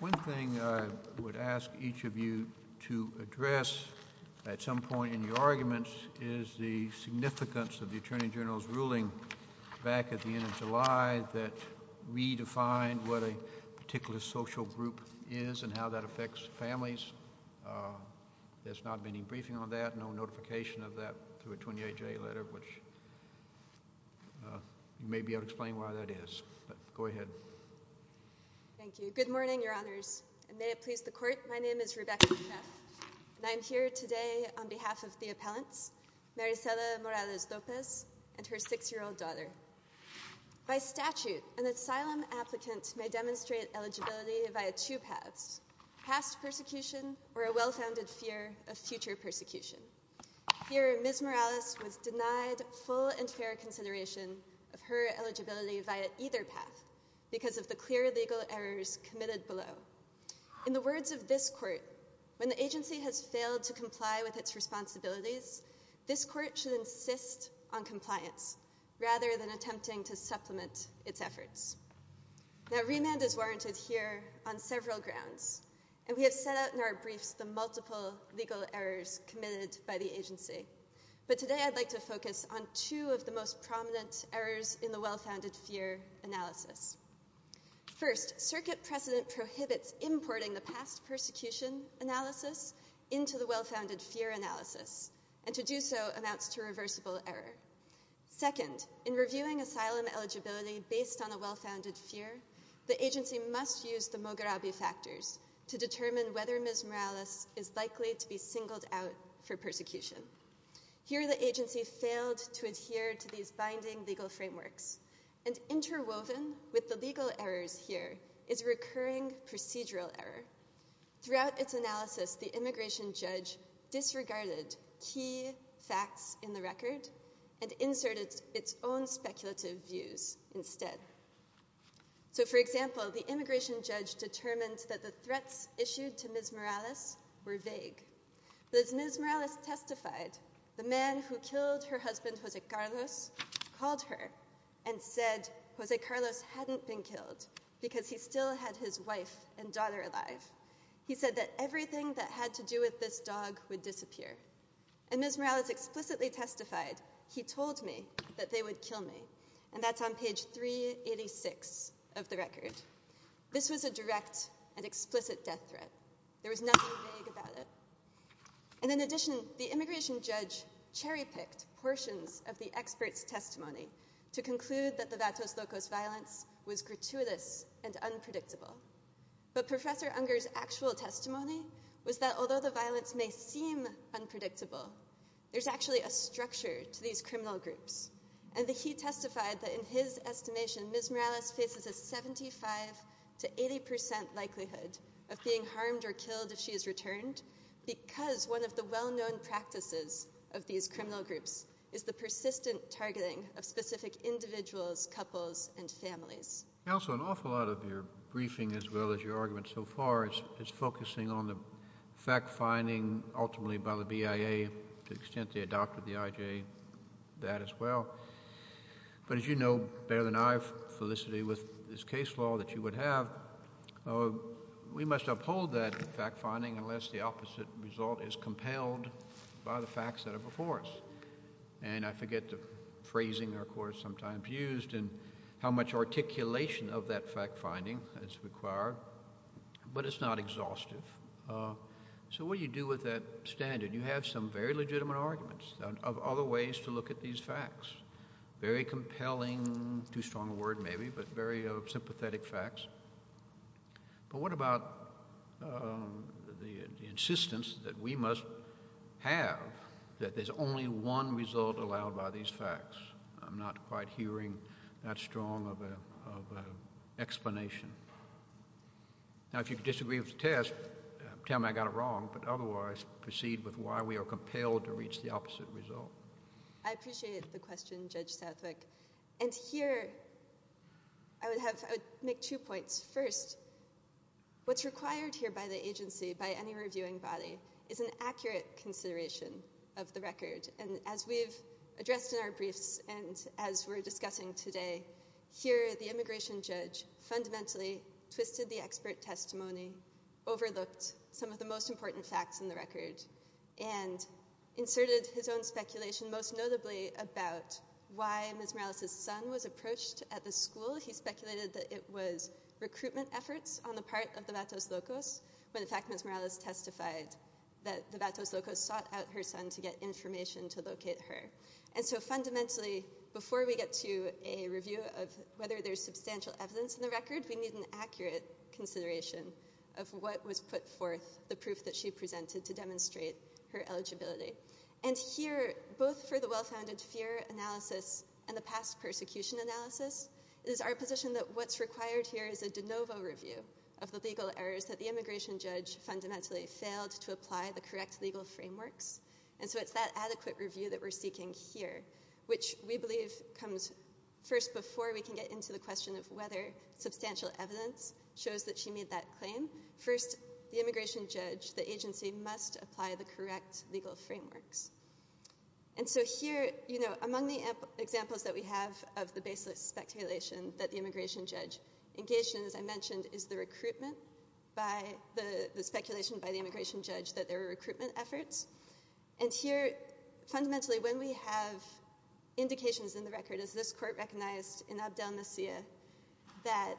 One thing I would ask each of you to address at some point in your arguments is the significance of the Attorney General's ruling back at the end of July that redefined what a particular social group is and how that affects families. There has not been any briefing on that, no notification of that through a 28-J letter which you may be able to explain why that is. Go ahead. Thank you. Good morning, your honors. May it please the court, my name is Rebecca Cheff and I am here today on behalf of the appellants, Marisela Morales Lopez and her six-year-old daughter. By statute, an asylum applicant may demonstrate eligibility via two paths, past persecution or a well-founded fear of future persecution. Here, Ms. Morales was denied full and fair consideration of her eligibility via either path because of the clear legal errors committed below. In the words of this court, when the agency has failed to comply with its responsibilities, this court should insist on compliance rather than attempting to supplement its efforts. Now, remand is warranted here on several grounds and we have set out in our briefs the multiple legal errors committed by the agency, but today I'd like to focus on two of the most prominent errors in the well-founded fear analysis. First, circuit precedent prohibits importing the past persecution analysis into the well-founded fear analysis and to do so amounts to reversible error. Second, in reviewing asylum eligibility based on a well-founded fear, the agency must use the Moghrabi factors to determine whether Ms. Morales is likely to be singled out for persecution. Here, the agency failed to adhere to these binding legal frameworks and interwoven with the legal errors here is recurring procedural error. Throughout its analysis, the immigration judge disregarded key facts in the record and inserted its own speculative views instead. So, for example, the immigration judge determined that the threats issued to Ms. Morales were vague. But as Ms. Morales testified, the man who killed her husband, Jose Carlos, called her and said Jose Carlos hadn't been killed because he still had his wife and daughter alive. He said that everything that had to do with this dog would disappear. And Ms. Morales explicitly testified, he told me that they would kill me. And that's on page 386 of the record. This was a direct and explicit death threat. There was nothing vague about it. And in addition, the immigration judge cherry-picked portions of the expert's testimony to conclude that the Vatos Locos violence was gratuitous and unpredictable. But Professor Unger's actual testimony was that although the violence may seem unpredictable, there's actually a structure to these criminal groups. And he testified that in his estimation, Ms. Morales faces a 75 to 80 percent likelihood of being harmed or killed if she is returned because one of the well-known practices of these criminal groups is the persistent targeting of specific individuals, couples, and families. Also, an awful lot of your briefing as well as your argument so far is focusing on the fact-finding ultimately by the BIA to the extent they adopted the IJ, that as well. But as you know better than I, Felicity, with this case law that you would have, we must uphold that fact-finding unless the opposite result is compelled by the facts that are before us. And I forget the phrasing our courts sometimes used and how much articulation of that fact-finding is required, but it's not exhaustive. So what do you do with that standard? You have some very legitimate arguments of other ways to look at these facts. Very compelling, too strong a word maybe, but very sympathetic facts. But what about the insistence that we must have that there's only one result allowed by these facts? I'm not quite hearing that strong of an explanation. Now, if you disagree with the test, tell me I got it wrong. But otherwise, proceed with why we are compelled to reach the opposite result. I appreciate the question, Judge Southwick. And here, I would make two points. First, what's required here by the agency, by any reviewing body, is an accurate consideration of the record. And as we've addressed in our briefs and as we're discussing today, here, the immigration judge fundamentally twisted the expert testimony, overlooked some of the most important facts in the record, and inserted his own speculation, most notably about why Ms. Morales' son was approached at the school. He speculated that it was recruitment efforts on the part of the Vatos Locos when, in fact, testified that the Vatos Locos sought out her son to get information to locate her. And so fundamentally, before we get to a review of whether there's substantial evidence in the record, we need an accurate consideration of what was put forth, the proof that she presented to demonstrate her eligibility. And here, both for the well-founded fear analysis and the past persecution analysis, it is our position that what's required here is a de novo review of the legal errors that the immigration judge fundamentally failed to apply the correct legal frameworks. And so it's that adequate review that we're seeking here, which we believe comes first before we can get into the question of whether substantial evidence shows that she made that claim. First, the immigration judge, the agency, must apply the correct legal frameworks. And so here, you know, among the examples that we have of the baseless speculation that the immigration judge engaged in, as I mentioned, is the recruitment by the speculation by the immigration judge that there were recruitment efforts. And here, fundamentally, when we have indications in the record, as this court recognized in Abdel Nasir that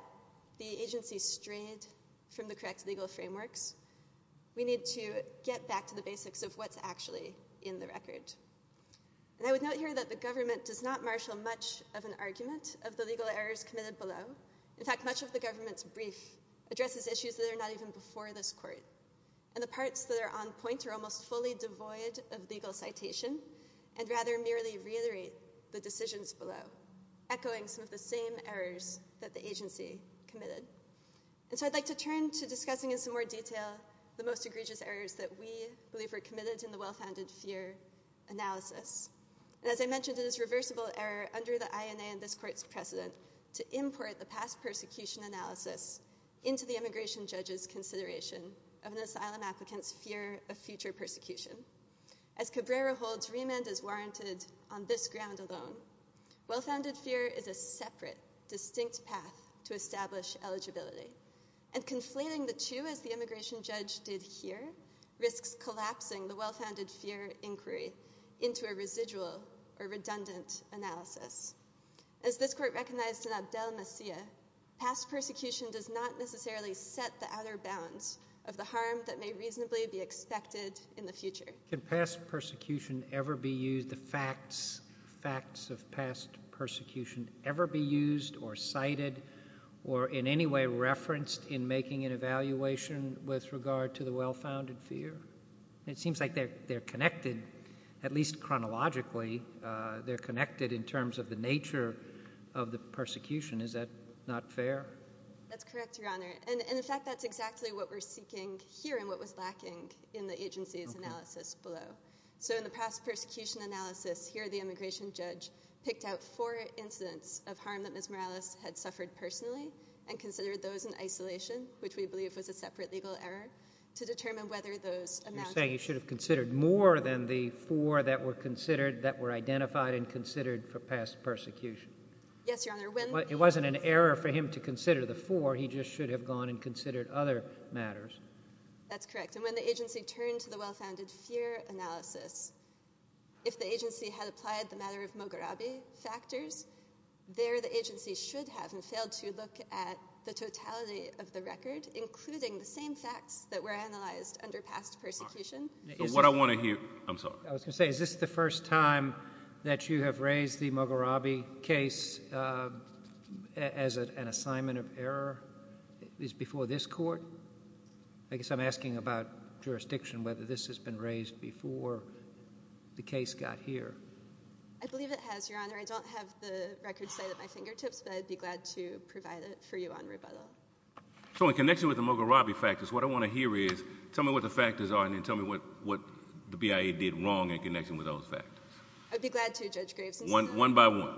the agency strayed from the correct legal frameworks, we need to get back to the basics of what's actually in the record. And I would note here that the government does not marshal much of an argument of the above. In fact, much of the government's brief addresses issues that are not even before this court. And the parts that are on point are almost fully devoid of legal citation and rather merely reiterate the decisions below, echoing some of the same errors that the agency committed. And so I'd like to turn to discussing in some more detail the most egregious errors that we believe were committed in the well-founded fear analysis. And as I mentioned, it is reversible error under the INA and this court's precedent to import the past persecution analysis into the immigration judge's consideration of an asylum applicant's fear of future persecution. As Cabrera holds, remand is warranted on this ground alone. Well-founded fear is a separate, distinct path to establish eligibility. And conflating the two, as the immigration judge did here, risks collapsing the well-founded fear inquiry into a residual or redundant analysis. As this court recognized in Abdel Nasir, past persecution does not necessarily set the outer bounds of the harm that may reasonably be expected in the future. Can past persecution ever be used, the facts, facts of past persecution ever be used or cited or in any way referenced in making an evaluation with regard to the well-founded fear? It seems like they're connected, at least chronologically, they're connected in terms of the nature of the persecution. Is that not fair? That's correct, Your Honor. And in fact, that's exactly what we're seeking here and what was lacking in the agency's analysis below. So in the past persecution analysis, here the immigration judge picked out four incidents of harm that Ms. Morales had suffered personally and considered those in isolation, which we say he should have considered more than the four that were considered, that were identified and considered for past persecution. Yes, Your Honor. It wasn't an error for him to consider the four, he just should have gone and considered other matters. That's correct. And when the agency turned to the well-founded fear analysis, if the agency had applied the matter of Moghrabi factors, there the agency should have and failed to look at the totality of the record, including the same facts that were analyzed under past persecution. So what I want to hear, I'm sorry. I was going to say, is this the first time that you have raised the Moghrabi case as an assignment of error, at least before this court? I guess I'm asking about jurisdiction, whether this has been raised before the case got here. I believe it has, Your Honor. I don't have the record site at my fingertips, but I'd be glad to provide it for you on rebuttal. So in connection with the Moghrabi factors, what I want to hear is, tell me what the factors are and then tell me what the BIA did wrong in connection with those factors. I'd be glad to, Judge Graves. One by one.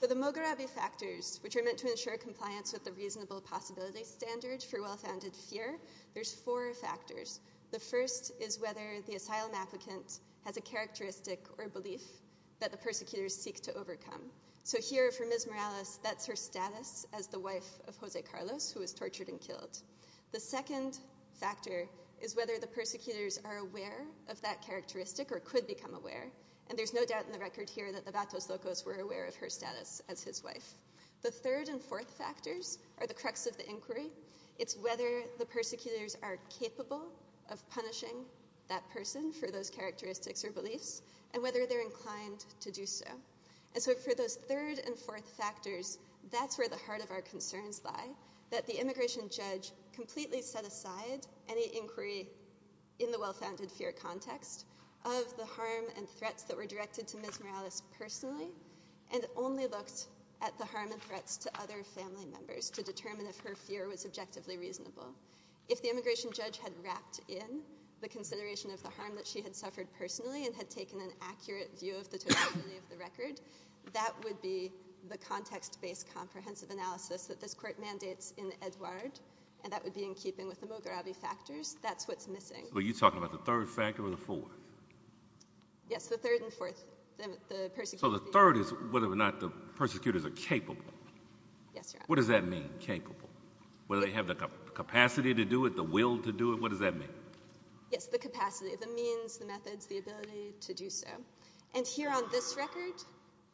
For the Moghrabi factors, which are meant to ensure compliance with the reasonable possibility standard for well-founded fear, there's four factors. The first is whether the asylum applicant has a characteristic or a belief that the persecutors seek to overcome. So here for Ms. Morales, that's her status as the wife of Jose Carlos, who was tortured and killed. The second factor is whether the persecutors are aware of that characteristic or could become aware. And there's no doubt in the record here that the Vatos Locos were aware of her status as his wife. The third and fourth factors are the crux of the inquiry. It's whether the persecutors are capable of punishing that person for those characteristics or beliefs, and whether they're inclined to do so. And so for those third and fourth factors, that's where the heart of our concerns lie, that the immigration judge completely set aside any inquiry in the well-founded fear context of the harm and threats that were directed to Ms. Morales personally, and only looked at the harm and threats to other family members to determine if her fear was objectively reasonable. If the immigration judge had wrapped in the consideration of the harm that she had suffered personally and had taken an accurate view of the totality of the record, that would be the context-based comprehensive analysis that this Court mandates in Edouard, and that would be in keeping with the Mo Gravi factors. That's what's missing. So are you talking about the third factor or the fourth? Yes, the third and fourth, the persecutors. So the third is whether or not the persecutors are capable. Yes, Your Honor. What does that mean, capable? Whether they have the capacity to do it, the will to do it, what does that mean? Yes, the capacity, the means, the methods, the ability to do so. And here on this record,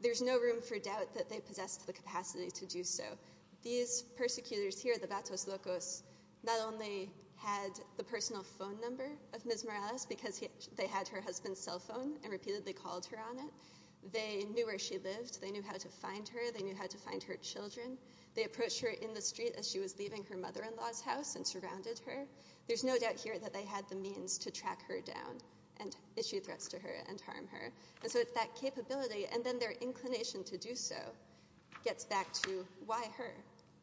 there's no room for doubt that they possessed the capacity to do so. These persecutors here, the Vatos Locos, not only had the personal phone number of Ms. Morales because they had her husband's cell phone and repeatedly called her on it, they knew where she lived, they knew how to find her, they knew how to find her children. They approached her in the street as she was leaving her mother-in-law's house and surrounded her. There's no doubt here that they had the means to track her down and issue threats to her and harm her. And so it's that capability and then their inclination to do so gets back to why her?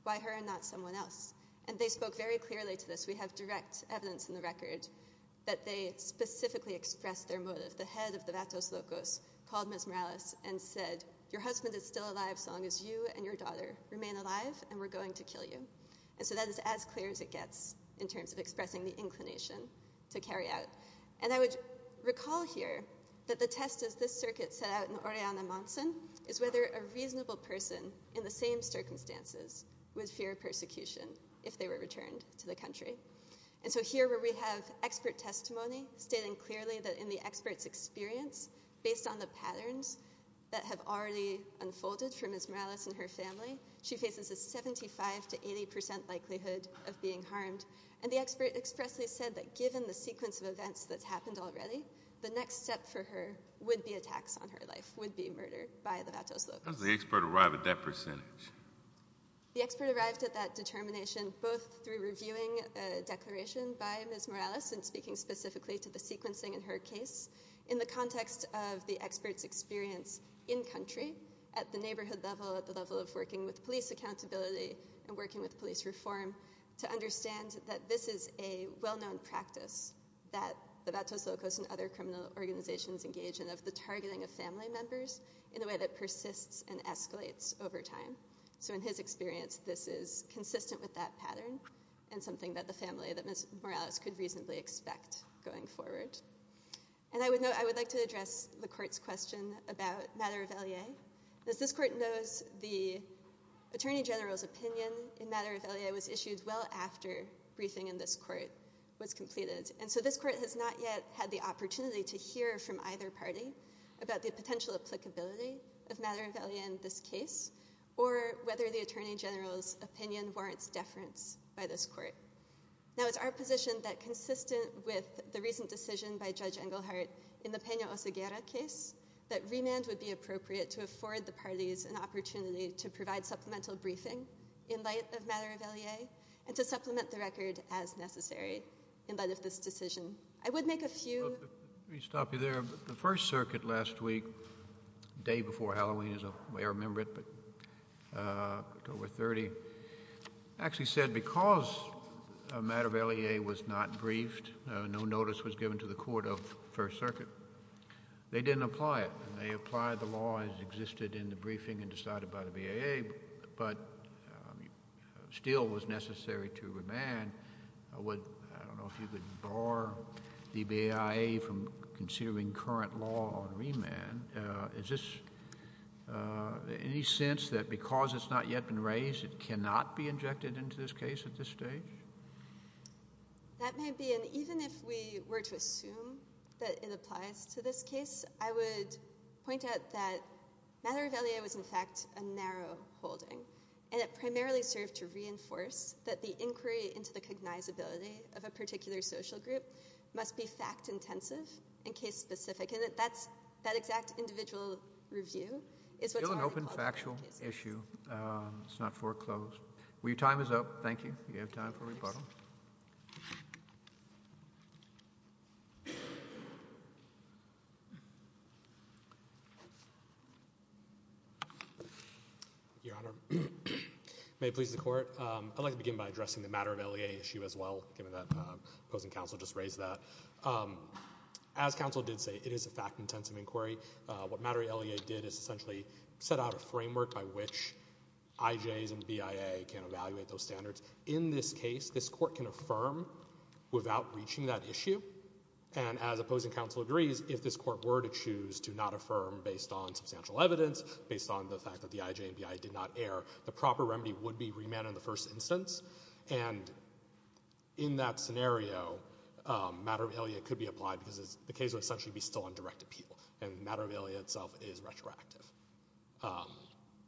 Why her and not someone else? And they spoke very clearly to this. We have direct evidence in the record that they specifically expressed their motive. The head of the Vatos Locos called Ms. Morales and said, your husband is still alive so long as you and your daughter remain alive and we're going to kill you. And so that is as clear as it gets in terms of expressing the inclination to carry out. And I would recall here that the test as this circuit set out in Oriana Monson is whether a reasonable person in the same circumstances would fear persecution if they were returned to the country. And so here where we have expert testimony stating clearly that in the expert's experience based on the patterns that have already unfolded for Ms. Morales and her family, she faces 75 to 80 percent likelihood of being harmed. And the expert expressly said that given the sequence of events that's happened already, the next step for her would be attacks on her life, would be murder by the Vatos Locos. How does the expert arrive at that percentage? The expert arrived at that determination both through reviewing a declaration by Ms. Morales and speaking specifically to the sequencing in her case in the context of the expert's experience in country at the neighborhood level, at the level of working with police accountability and working with police reform to understand that this is a well-known practice that the Vatos Locos and other criminal organizations engage in of the targeting of family members in a way that persists and escalates over time. So in his experience, this is consistent with that pattern and something that the family that Ms. Morales could reasonably expect going forward. And I would note, I would like to address the court's question about Madereveillé. As this court knows, the attorney general's opinion in Madereveillé was issued well after briefing in this court was completed. And so this court has not yet had the opportunity to hear from either party about the potential applicability of Madereveillé in this case or whether the attorney general's opinion warrants deference by this court. Now, it's our position that, consistent with the recent decision by Judge Engelhardt in the Peña-Oseguera case, that remand would be appropriate to afford the parties an opportunity to provide supplemental briefing in light of Madereveillé and to supplement the record as necessary in light of this decision. I would make a few— Let me stop you there. The First Circuit last week, the day before Halloween, as you may remember it, October 30, actually said because Madereveillé was not briefed, no notice was given to the court of First Circuit, they didn't apply it. They applied the law as existed in the briefing and decided by the BAA, but still was necessary to remand. I don't know if you could bar the BIA from considering current law on remand. Is this any sense that because it's not yet been raised, it cannot be injected into this case at this stage? That may be. And even if we were to assume that it applies to this case, I would point out that Madereveillé was, in fact, a narrow holding, and it primarily served to reinforce that the inquiry into the cognizability of a particular social group must be fact-intensive and case-specific. That exact individual review is what's already— It's still an open, factual issue. It's not foreclosed. Well, your time is up. Thank you. You have time for rebuttal. Your Honor, may it please the Court. I'd like to begin by addressing the Madereveillé issue as well, given that opposing counsel just raised that. As counsel did say, it is a fact-intensive inquiry. What Madereveillé did is essentially set out a framework by which IJs and BIA can evaluate those standards. In this case, this Court can affirm without reaching that issue. And as opposing counsel agrees, if this Court were to choose to not affirm based on substantial evidence, based on the fact that the IJ and BIA did not err, the proper remedy would be remand in the first instance. And in that scenario, Madereveillé could be applied because the case would essentially be still on direct appeal. And Madereveillé itself is retroactive.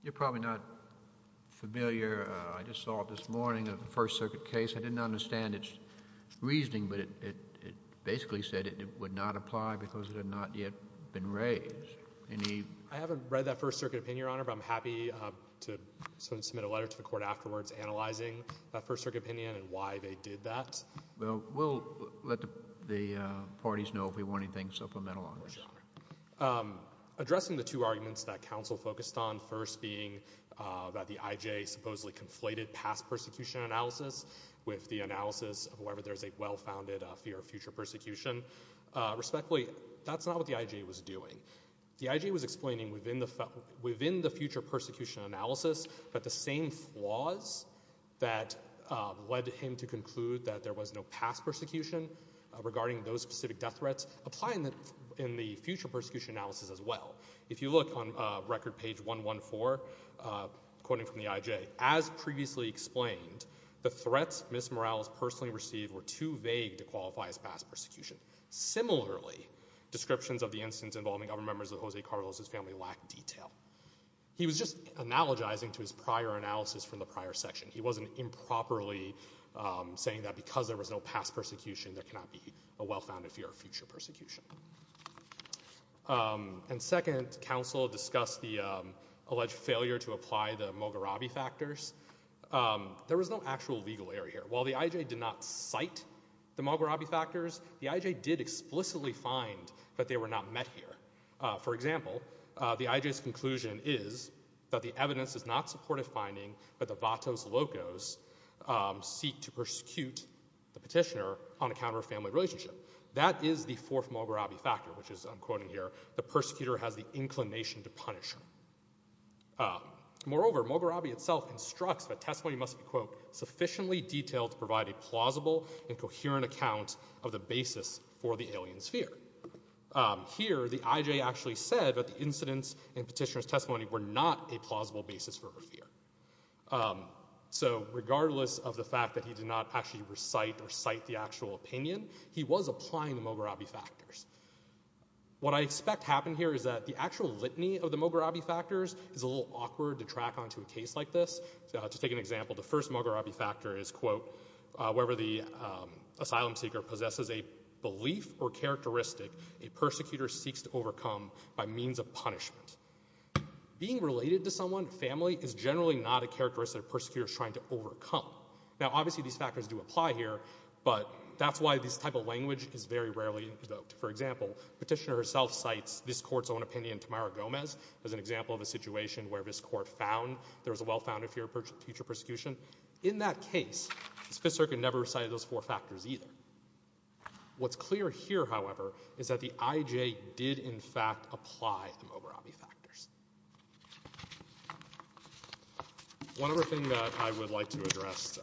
You're probably not familiar. I just saw this morning a First Circuit case. I didn't understand its reasoning, but it basically said it would not apply because it had not yet been raised. I haven't read that First Circuit opinion, Your Honor, but I'm happy to submit a letter to the Court afterwards analyzing that First Circuit opinion and why they did that. Well, we'll let the parties know if we want anything supplemental on this. Of course, Your Honor. Addressing the two arguments that counsel focused on, first being that the IJ supposedly conflated past persecution analysis with the analysis of whether there's a well-founded fear of future persecution, respectfully, that's not what the IJ was doing. The IJ was explaining within the future persecution analysis that the same flaws that led him to conclude that there was no past persecution regarding those specific death threats apply in the future persecution analysis as well. If you look on record page 114, quoting from the IJ, as previously explained, the threats Ms. Morales personally received were too vague to qualify as past persecution. Similarly, descriptions of the instance involving other members of Jose Carlos's family lack detail. He was just analogizing to his prior analysis from the prior section. He wasn't improperly saying that because there was no past persecution, there cannot be a well-founded fear of future persecution. And second, counsel discussed the alleged failure to apply the Mogarabi factors. There was no actual legal error here. While the IJ did not cite the Mogarabi factors, the IJ did explicitly find that they were not met here. For example, the IJ's conclusion is that the evidence is not supportive finding, but the Vatos Locos seek to persecute the petitioner on account of a family relationship. That is the fourth Mogarabi factor, which is, I'm quoting here, the persecutor has the inclination to punish him. Moreover, Mogarabi itself instructs that testimony must be, quote, sufficiently detailed to provide a plausible and coherent account of the basis for the alien's fear. Here, the IJ actually said that the incidents in petitioner's testimony were not a plausible basis for her fear. So regardless of the fact that he did not actually recite or cite the actual opinion, he was applying the Mogarabi factors. What I expect happened here is that the actual litany of the Mogarabi factors is a little awkward to track onto a case like this. To take an example, the first Mogarabi factor is, quote, however the asylum seeker possesses a belief or characteristic a persecutor seeks to overcome by means of punishment. Being related to someone, family, is generally not a characteristic a persecutor is trying to overcome. Now obviously these factors do apply here, but that's why this type of language is very important. For example, petitioner herself cites this court's own opinion, Tamara Gomez, as an example of a situation where this court found there was a well-founded fear of future persecution. In that case, the Fifth Circuit never recited those four factors either. What's clear here, however, is that the IJ did in fact apply the Mogarabi factors. One other thing that I would like to address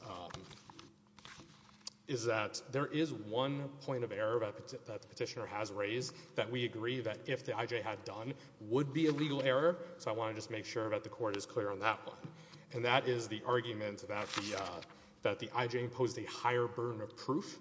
is that there is one point of error that the petitioner has raised that we agree that if the IJ had done would be a legal error. So I want to just make sure that the court is clear on that one. And that is the argument that the IJ imposed a higher burden of proof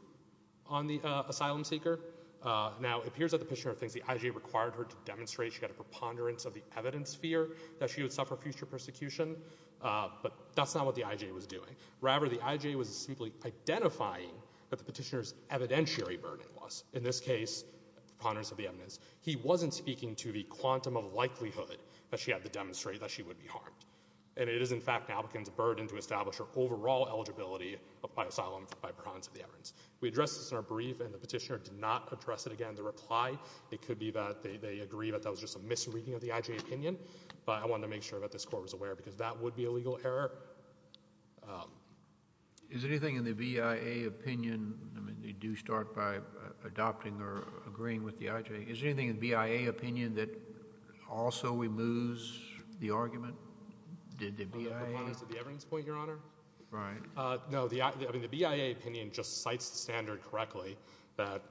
on the asylum seeker. Now it appears that the petitioner thinks the IJ required her to demonstrate she had a preponderance of the evidence fear that she would suffer future persecution, but that's not what the IJ was doing. Rather, the IJ was simply identifying that the petitioner's evidentiary burden was. In this case, preponderance of the evidence. He wasn't speaking to the quantum of likelihood that she had to demonstrate that she would be harmed. And it is in fact an applicant's burden to establish her overall eligibility of asylum by preponderance of the evidence. We addressed this in our brief and the petitioner did not address it again. The reply, it could be that they agree that that was just a misreading of the IJ opinion, but I wanted to make sure that this court was aware because that would be a legal error. Is there anything in the BIA opinion, I mean, you do start by adopting or agreeing with the IJ. Is there anything in BIA opinion that also removes the argument? Did the BIA? On the preponderance of the evidence point, Your Honor? Right. No, I mean, the BIA opinion just cites the standard correctly that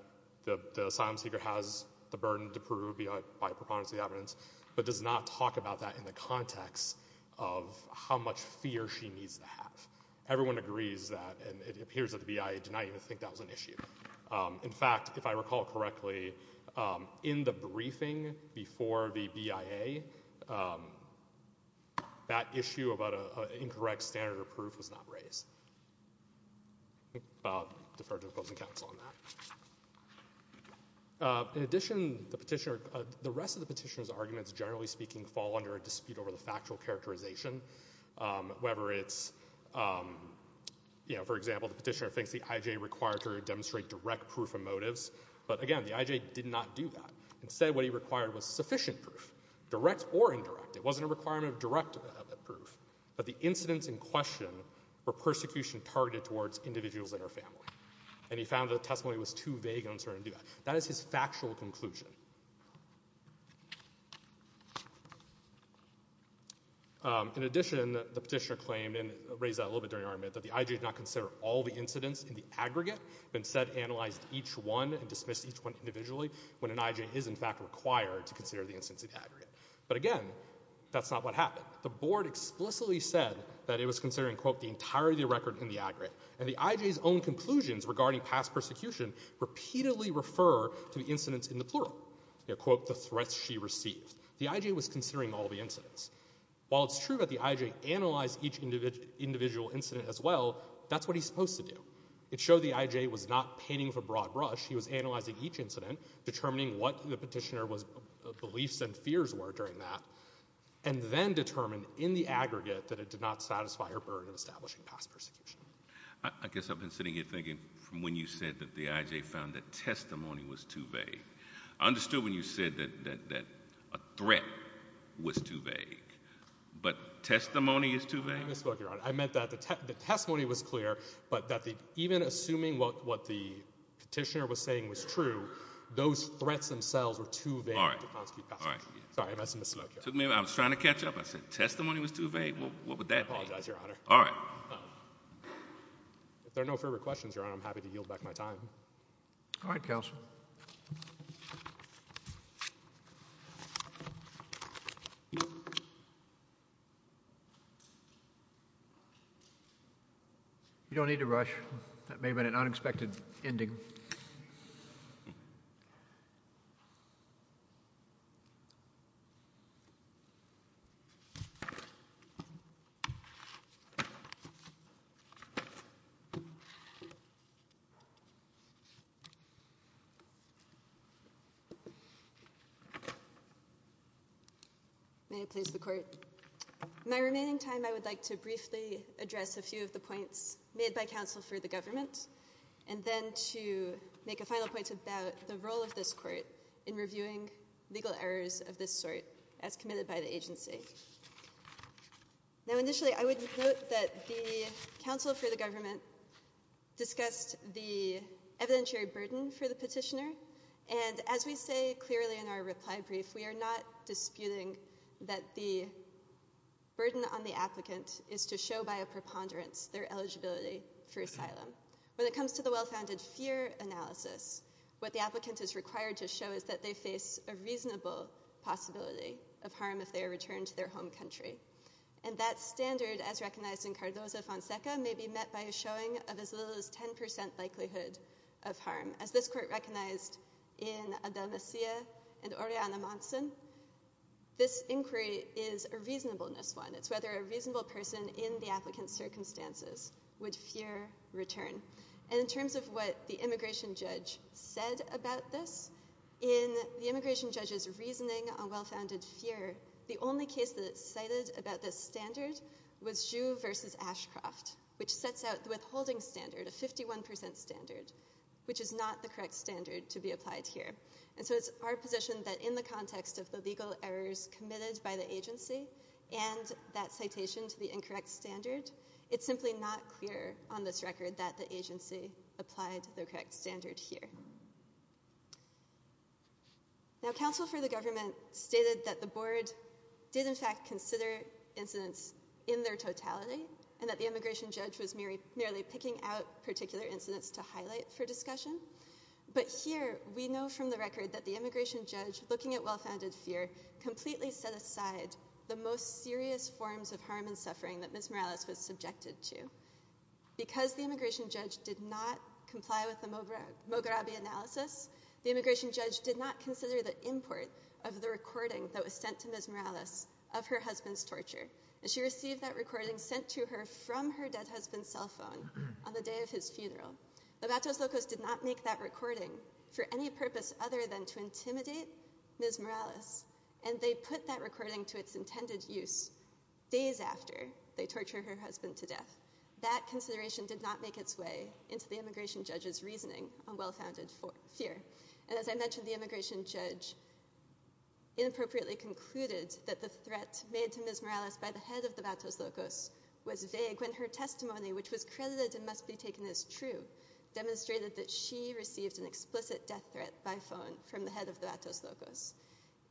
the asylum seeker has the burden to prove by preponderance of the evidence, but does not talk about that in the context of how much fear she needs to have. Everyone agrees that and it appears that the BIA did not even think that was an issue. In fact, if I recall correctly, in the briefing before the BIA, that issue about an incorrect standard of proof was not raised. I'll defer to opposing counsel on that. In addition, the petitioner, the rest of the petitioner's arguments, generally speaking, fall under a dispute over the factual characterization, whether it's, you know, for example, the petitioner thinks the IJ required her to demonstrate direct proof of motives. But again, the IJ did not do that. Instead, what he required was sufficient proof, direct or indirect. It wasn't a requirement of direct proof, but the incidents in question were persecution targeted towards individuals and their family. And he found the testimony was too vague and uncertain to do that. That is his factual conclusion. In addition, the petitioner claimed, and raised that a little bit during our amendment, that the IJ did not consider all the incidents in the aggregate, but instead analyzed each one and dismissed each one individually when an IJ is, in fact, required to consider the incidents in the aggregate. But again, that's not what happened. The board explicitly said that it was considering, quote, the entirety of the record in the aggregate. And the IJ's own conclusions regarding past persecution repeatedly refer to the incidents in the plural, quote, the threats she received. The IJ was considering all the incidents. While it's true that the IJ analyzed each individual incident as well, that's what he's supposed to do. It showed the IJ was not painting with a broad brush. He was analyzing each incident, determining what the petitioner was, beliefs and fears were during that, and then determine in the aggregate that it did not satisfy her burden of establishing past persecution. I guess I've been sitting here thinking from when you said that the IJ found that testimony was too vague. I understood when you said that a threat was too vague. But testimony is too vague? I misspoke, Your Honor. I meant that the testimony was clear, but that even assuming what the petitioner was saying was true, those threats themselves were too vague to consecute past persecution. All right. Sorry. I misspoke, Your Honor. I was trying to catch up. I said testimony was too vague? What would that mean? I apologize, Your Honor. All right. If there are no further questions, Your Honor, I'm happy to yield back my time. All right, counsel. You don't need to rush. That may have been an unexpected ending. May it please the court. My remaining time, I would like to briefly address a few of the points made by counsel for the government, and then to make a final point about the role of this court in reviewing legal errors of this sort as committed by the agency. Now, initially, I would note that the counsel for the government discussed the evidentiary burden for the petitioner, and as we say clearly in our reply brief, we are not disputing that the burden on the applicant is to show by a preponderance their eligibility for asylum. When it comes to the well-founded fear analysis, what the applicant is required to show is that they face a reasonable possibility of harm if they are returned to their home country, and that standard, as recognized in Cardozo-Fonseca, may be met by a showing of as little as 10% likelihood of harm. As this court recognized in Adelmecia and Orellana-Monson, this inquiry is a reasonableness one. It's whether a reasonable person in the applicant's circumstances would fear return. And in terms of what the immigration judge said about this, in the immigration judge's reasoning on well-founded fear, the only case that it cited about this standard was Juh versus Ashcroft, which sets out the withholding standard, a 51% standard, which is not the correct standard to be applied here. And so it's our position that in the context of the legal errors committed by the agency and that citation to the incorrect standard, it's simply not clear on this record that the agency applied the correct standard here. Now, counsel for the government stated that the board did, in fact, consider incidents in their totality and that the immigration judge was merely picking out particular incidents to highlight for discussion. But here, we know from the record that the immigration judge, looking at well-founded fear, completely set aside the most serious forms of harm and suffering that Ms. Morales was subjected to. Because the immigration judge did not comply with the Moghrabi analysis, the immigration judge did not consider the import of the recording that was sent to Ms. Morales of her husband's cell phone on the day of his funeral. The Vatos Locos did not make that recording for any purpose other than to intimidate Ms. Morales, and they put that recording to its intended use days after they torture her husband to death. That consideration did not make its way into the immigration judge's reasoning on well-founded fear. And as I mentioned, the immigration judge inappropriately concluded that the threat made to Ms. Morales by the head of the Vatos Locos was vague when her testimony, which was credited and must be taken as true, demonstrated that she received an explicit death threat by phone from the head of the Vatos Locos.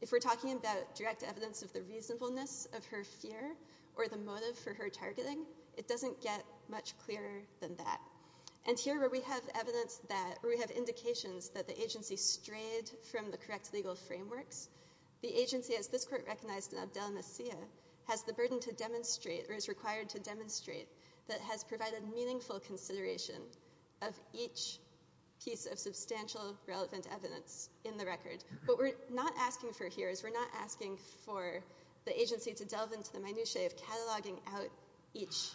If we're talking about direct evidence of the reasonableness of her fear or the motive for her targeting, it doesn't get much clearer than that. And here, where we have evidence that, where we have indications that the agency strayed from the correct legal frameworks, the agency, as this court recognized in Abdel Nassir, has the burden to demonstrate, or is required to demonstrate, that has provided meaningful consideration of each piece of substantial relevant evidence in the record. What we're not asking for here is we're not asking for the agency to delve into the minutiae of cataloging out each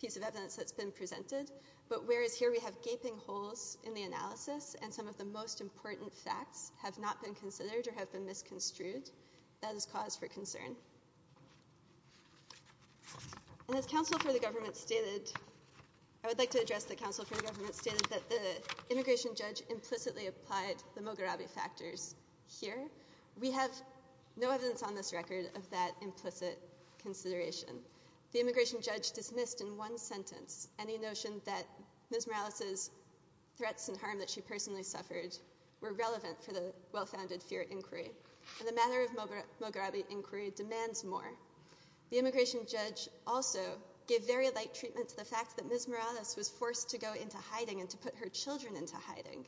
piece of evidence that's been presented. But whereas here we have gaping holes in the analysis and some of the most important facts have not been considered or have been misconstrued, that is cause for concern. And as counsel for the government stated, I would like to address the counsel for the government stated that the immigration judge implicitly applied the Mogherabi factors here. We have no evidence on this record of that implicit consideration. The immigration judge dismissed in one sentence any notion that Ms. Morales's threats and harm that she personally suffered were relevant for the well-founded fear inquiry. And the matter of Mogherabi inquiry demands more. The immigration judge also gave very light treatment to the fact that Ms. Morales was forced to go into hiding and to put her children into hiding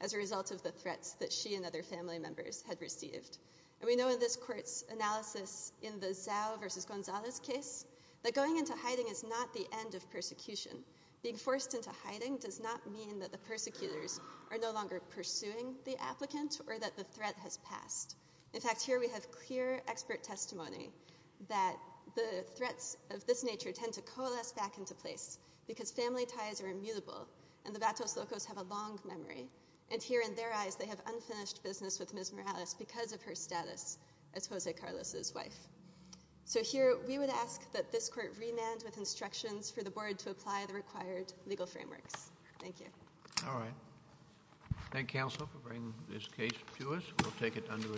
as a result of the threats that she and other family members had received. And we know in this court's analysis in the Zao versus Gonzalez case that going into hiding is not the end of persecution. Being forced into hiding does not mean that the persecutors are no longer pursuing the applicant or that the threat has passed. In fact, here we have clear expert testimony that the threats of this nature tend to coalesce back into place because family ties are immutable and the Vatos Locos have a long memory. And here in their eyes they have unfinished business with Ms. Morales because of her status as Jose Carlos's wife. So here we would ask that this court remand with instructions for the board to apply the required legal frameworks. Thank you. All right. Thank you counsel for bringing this case to us. We'll take it under advisement.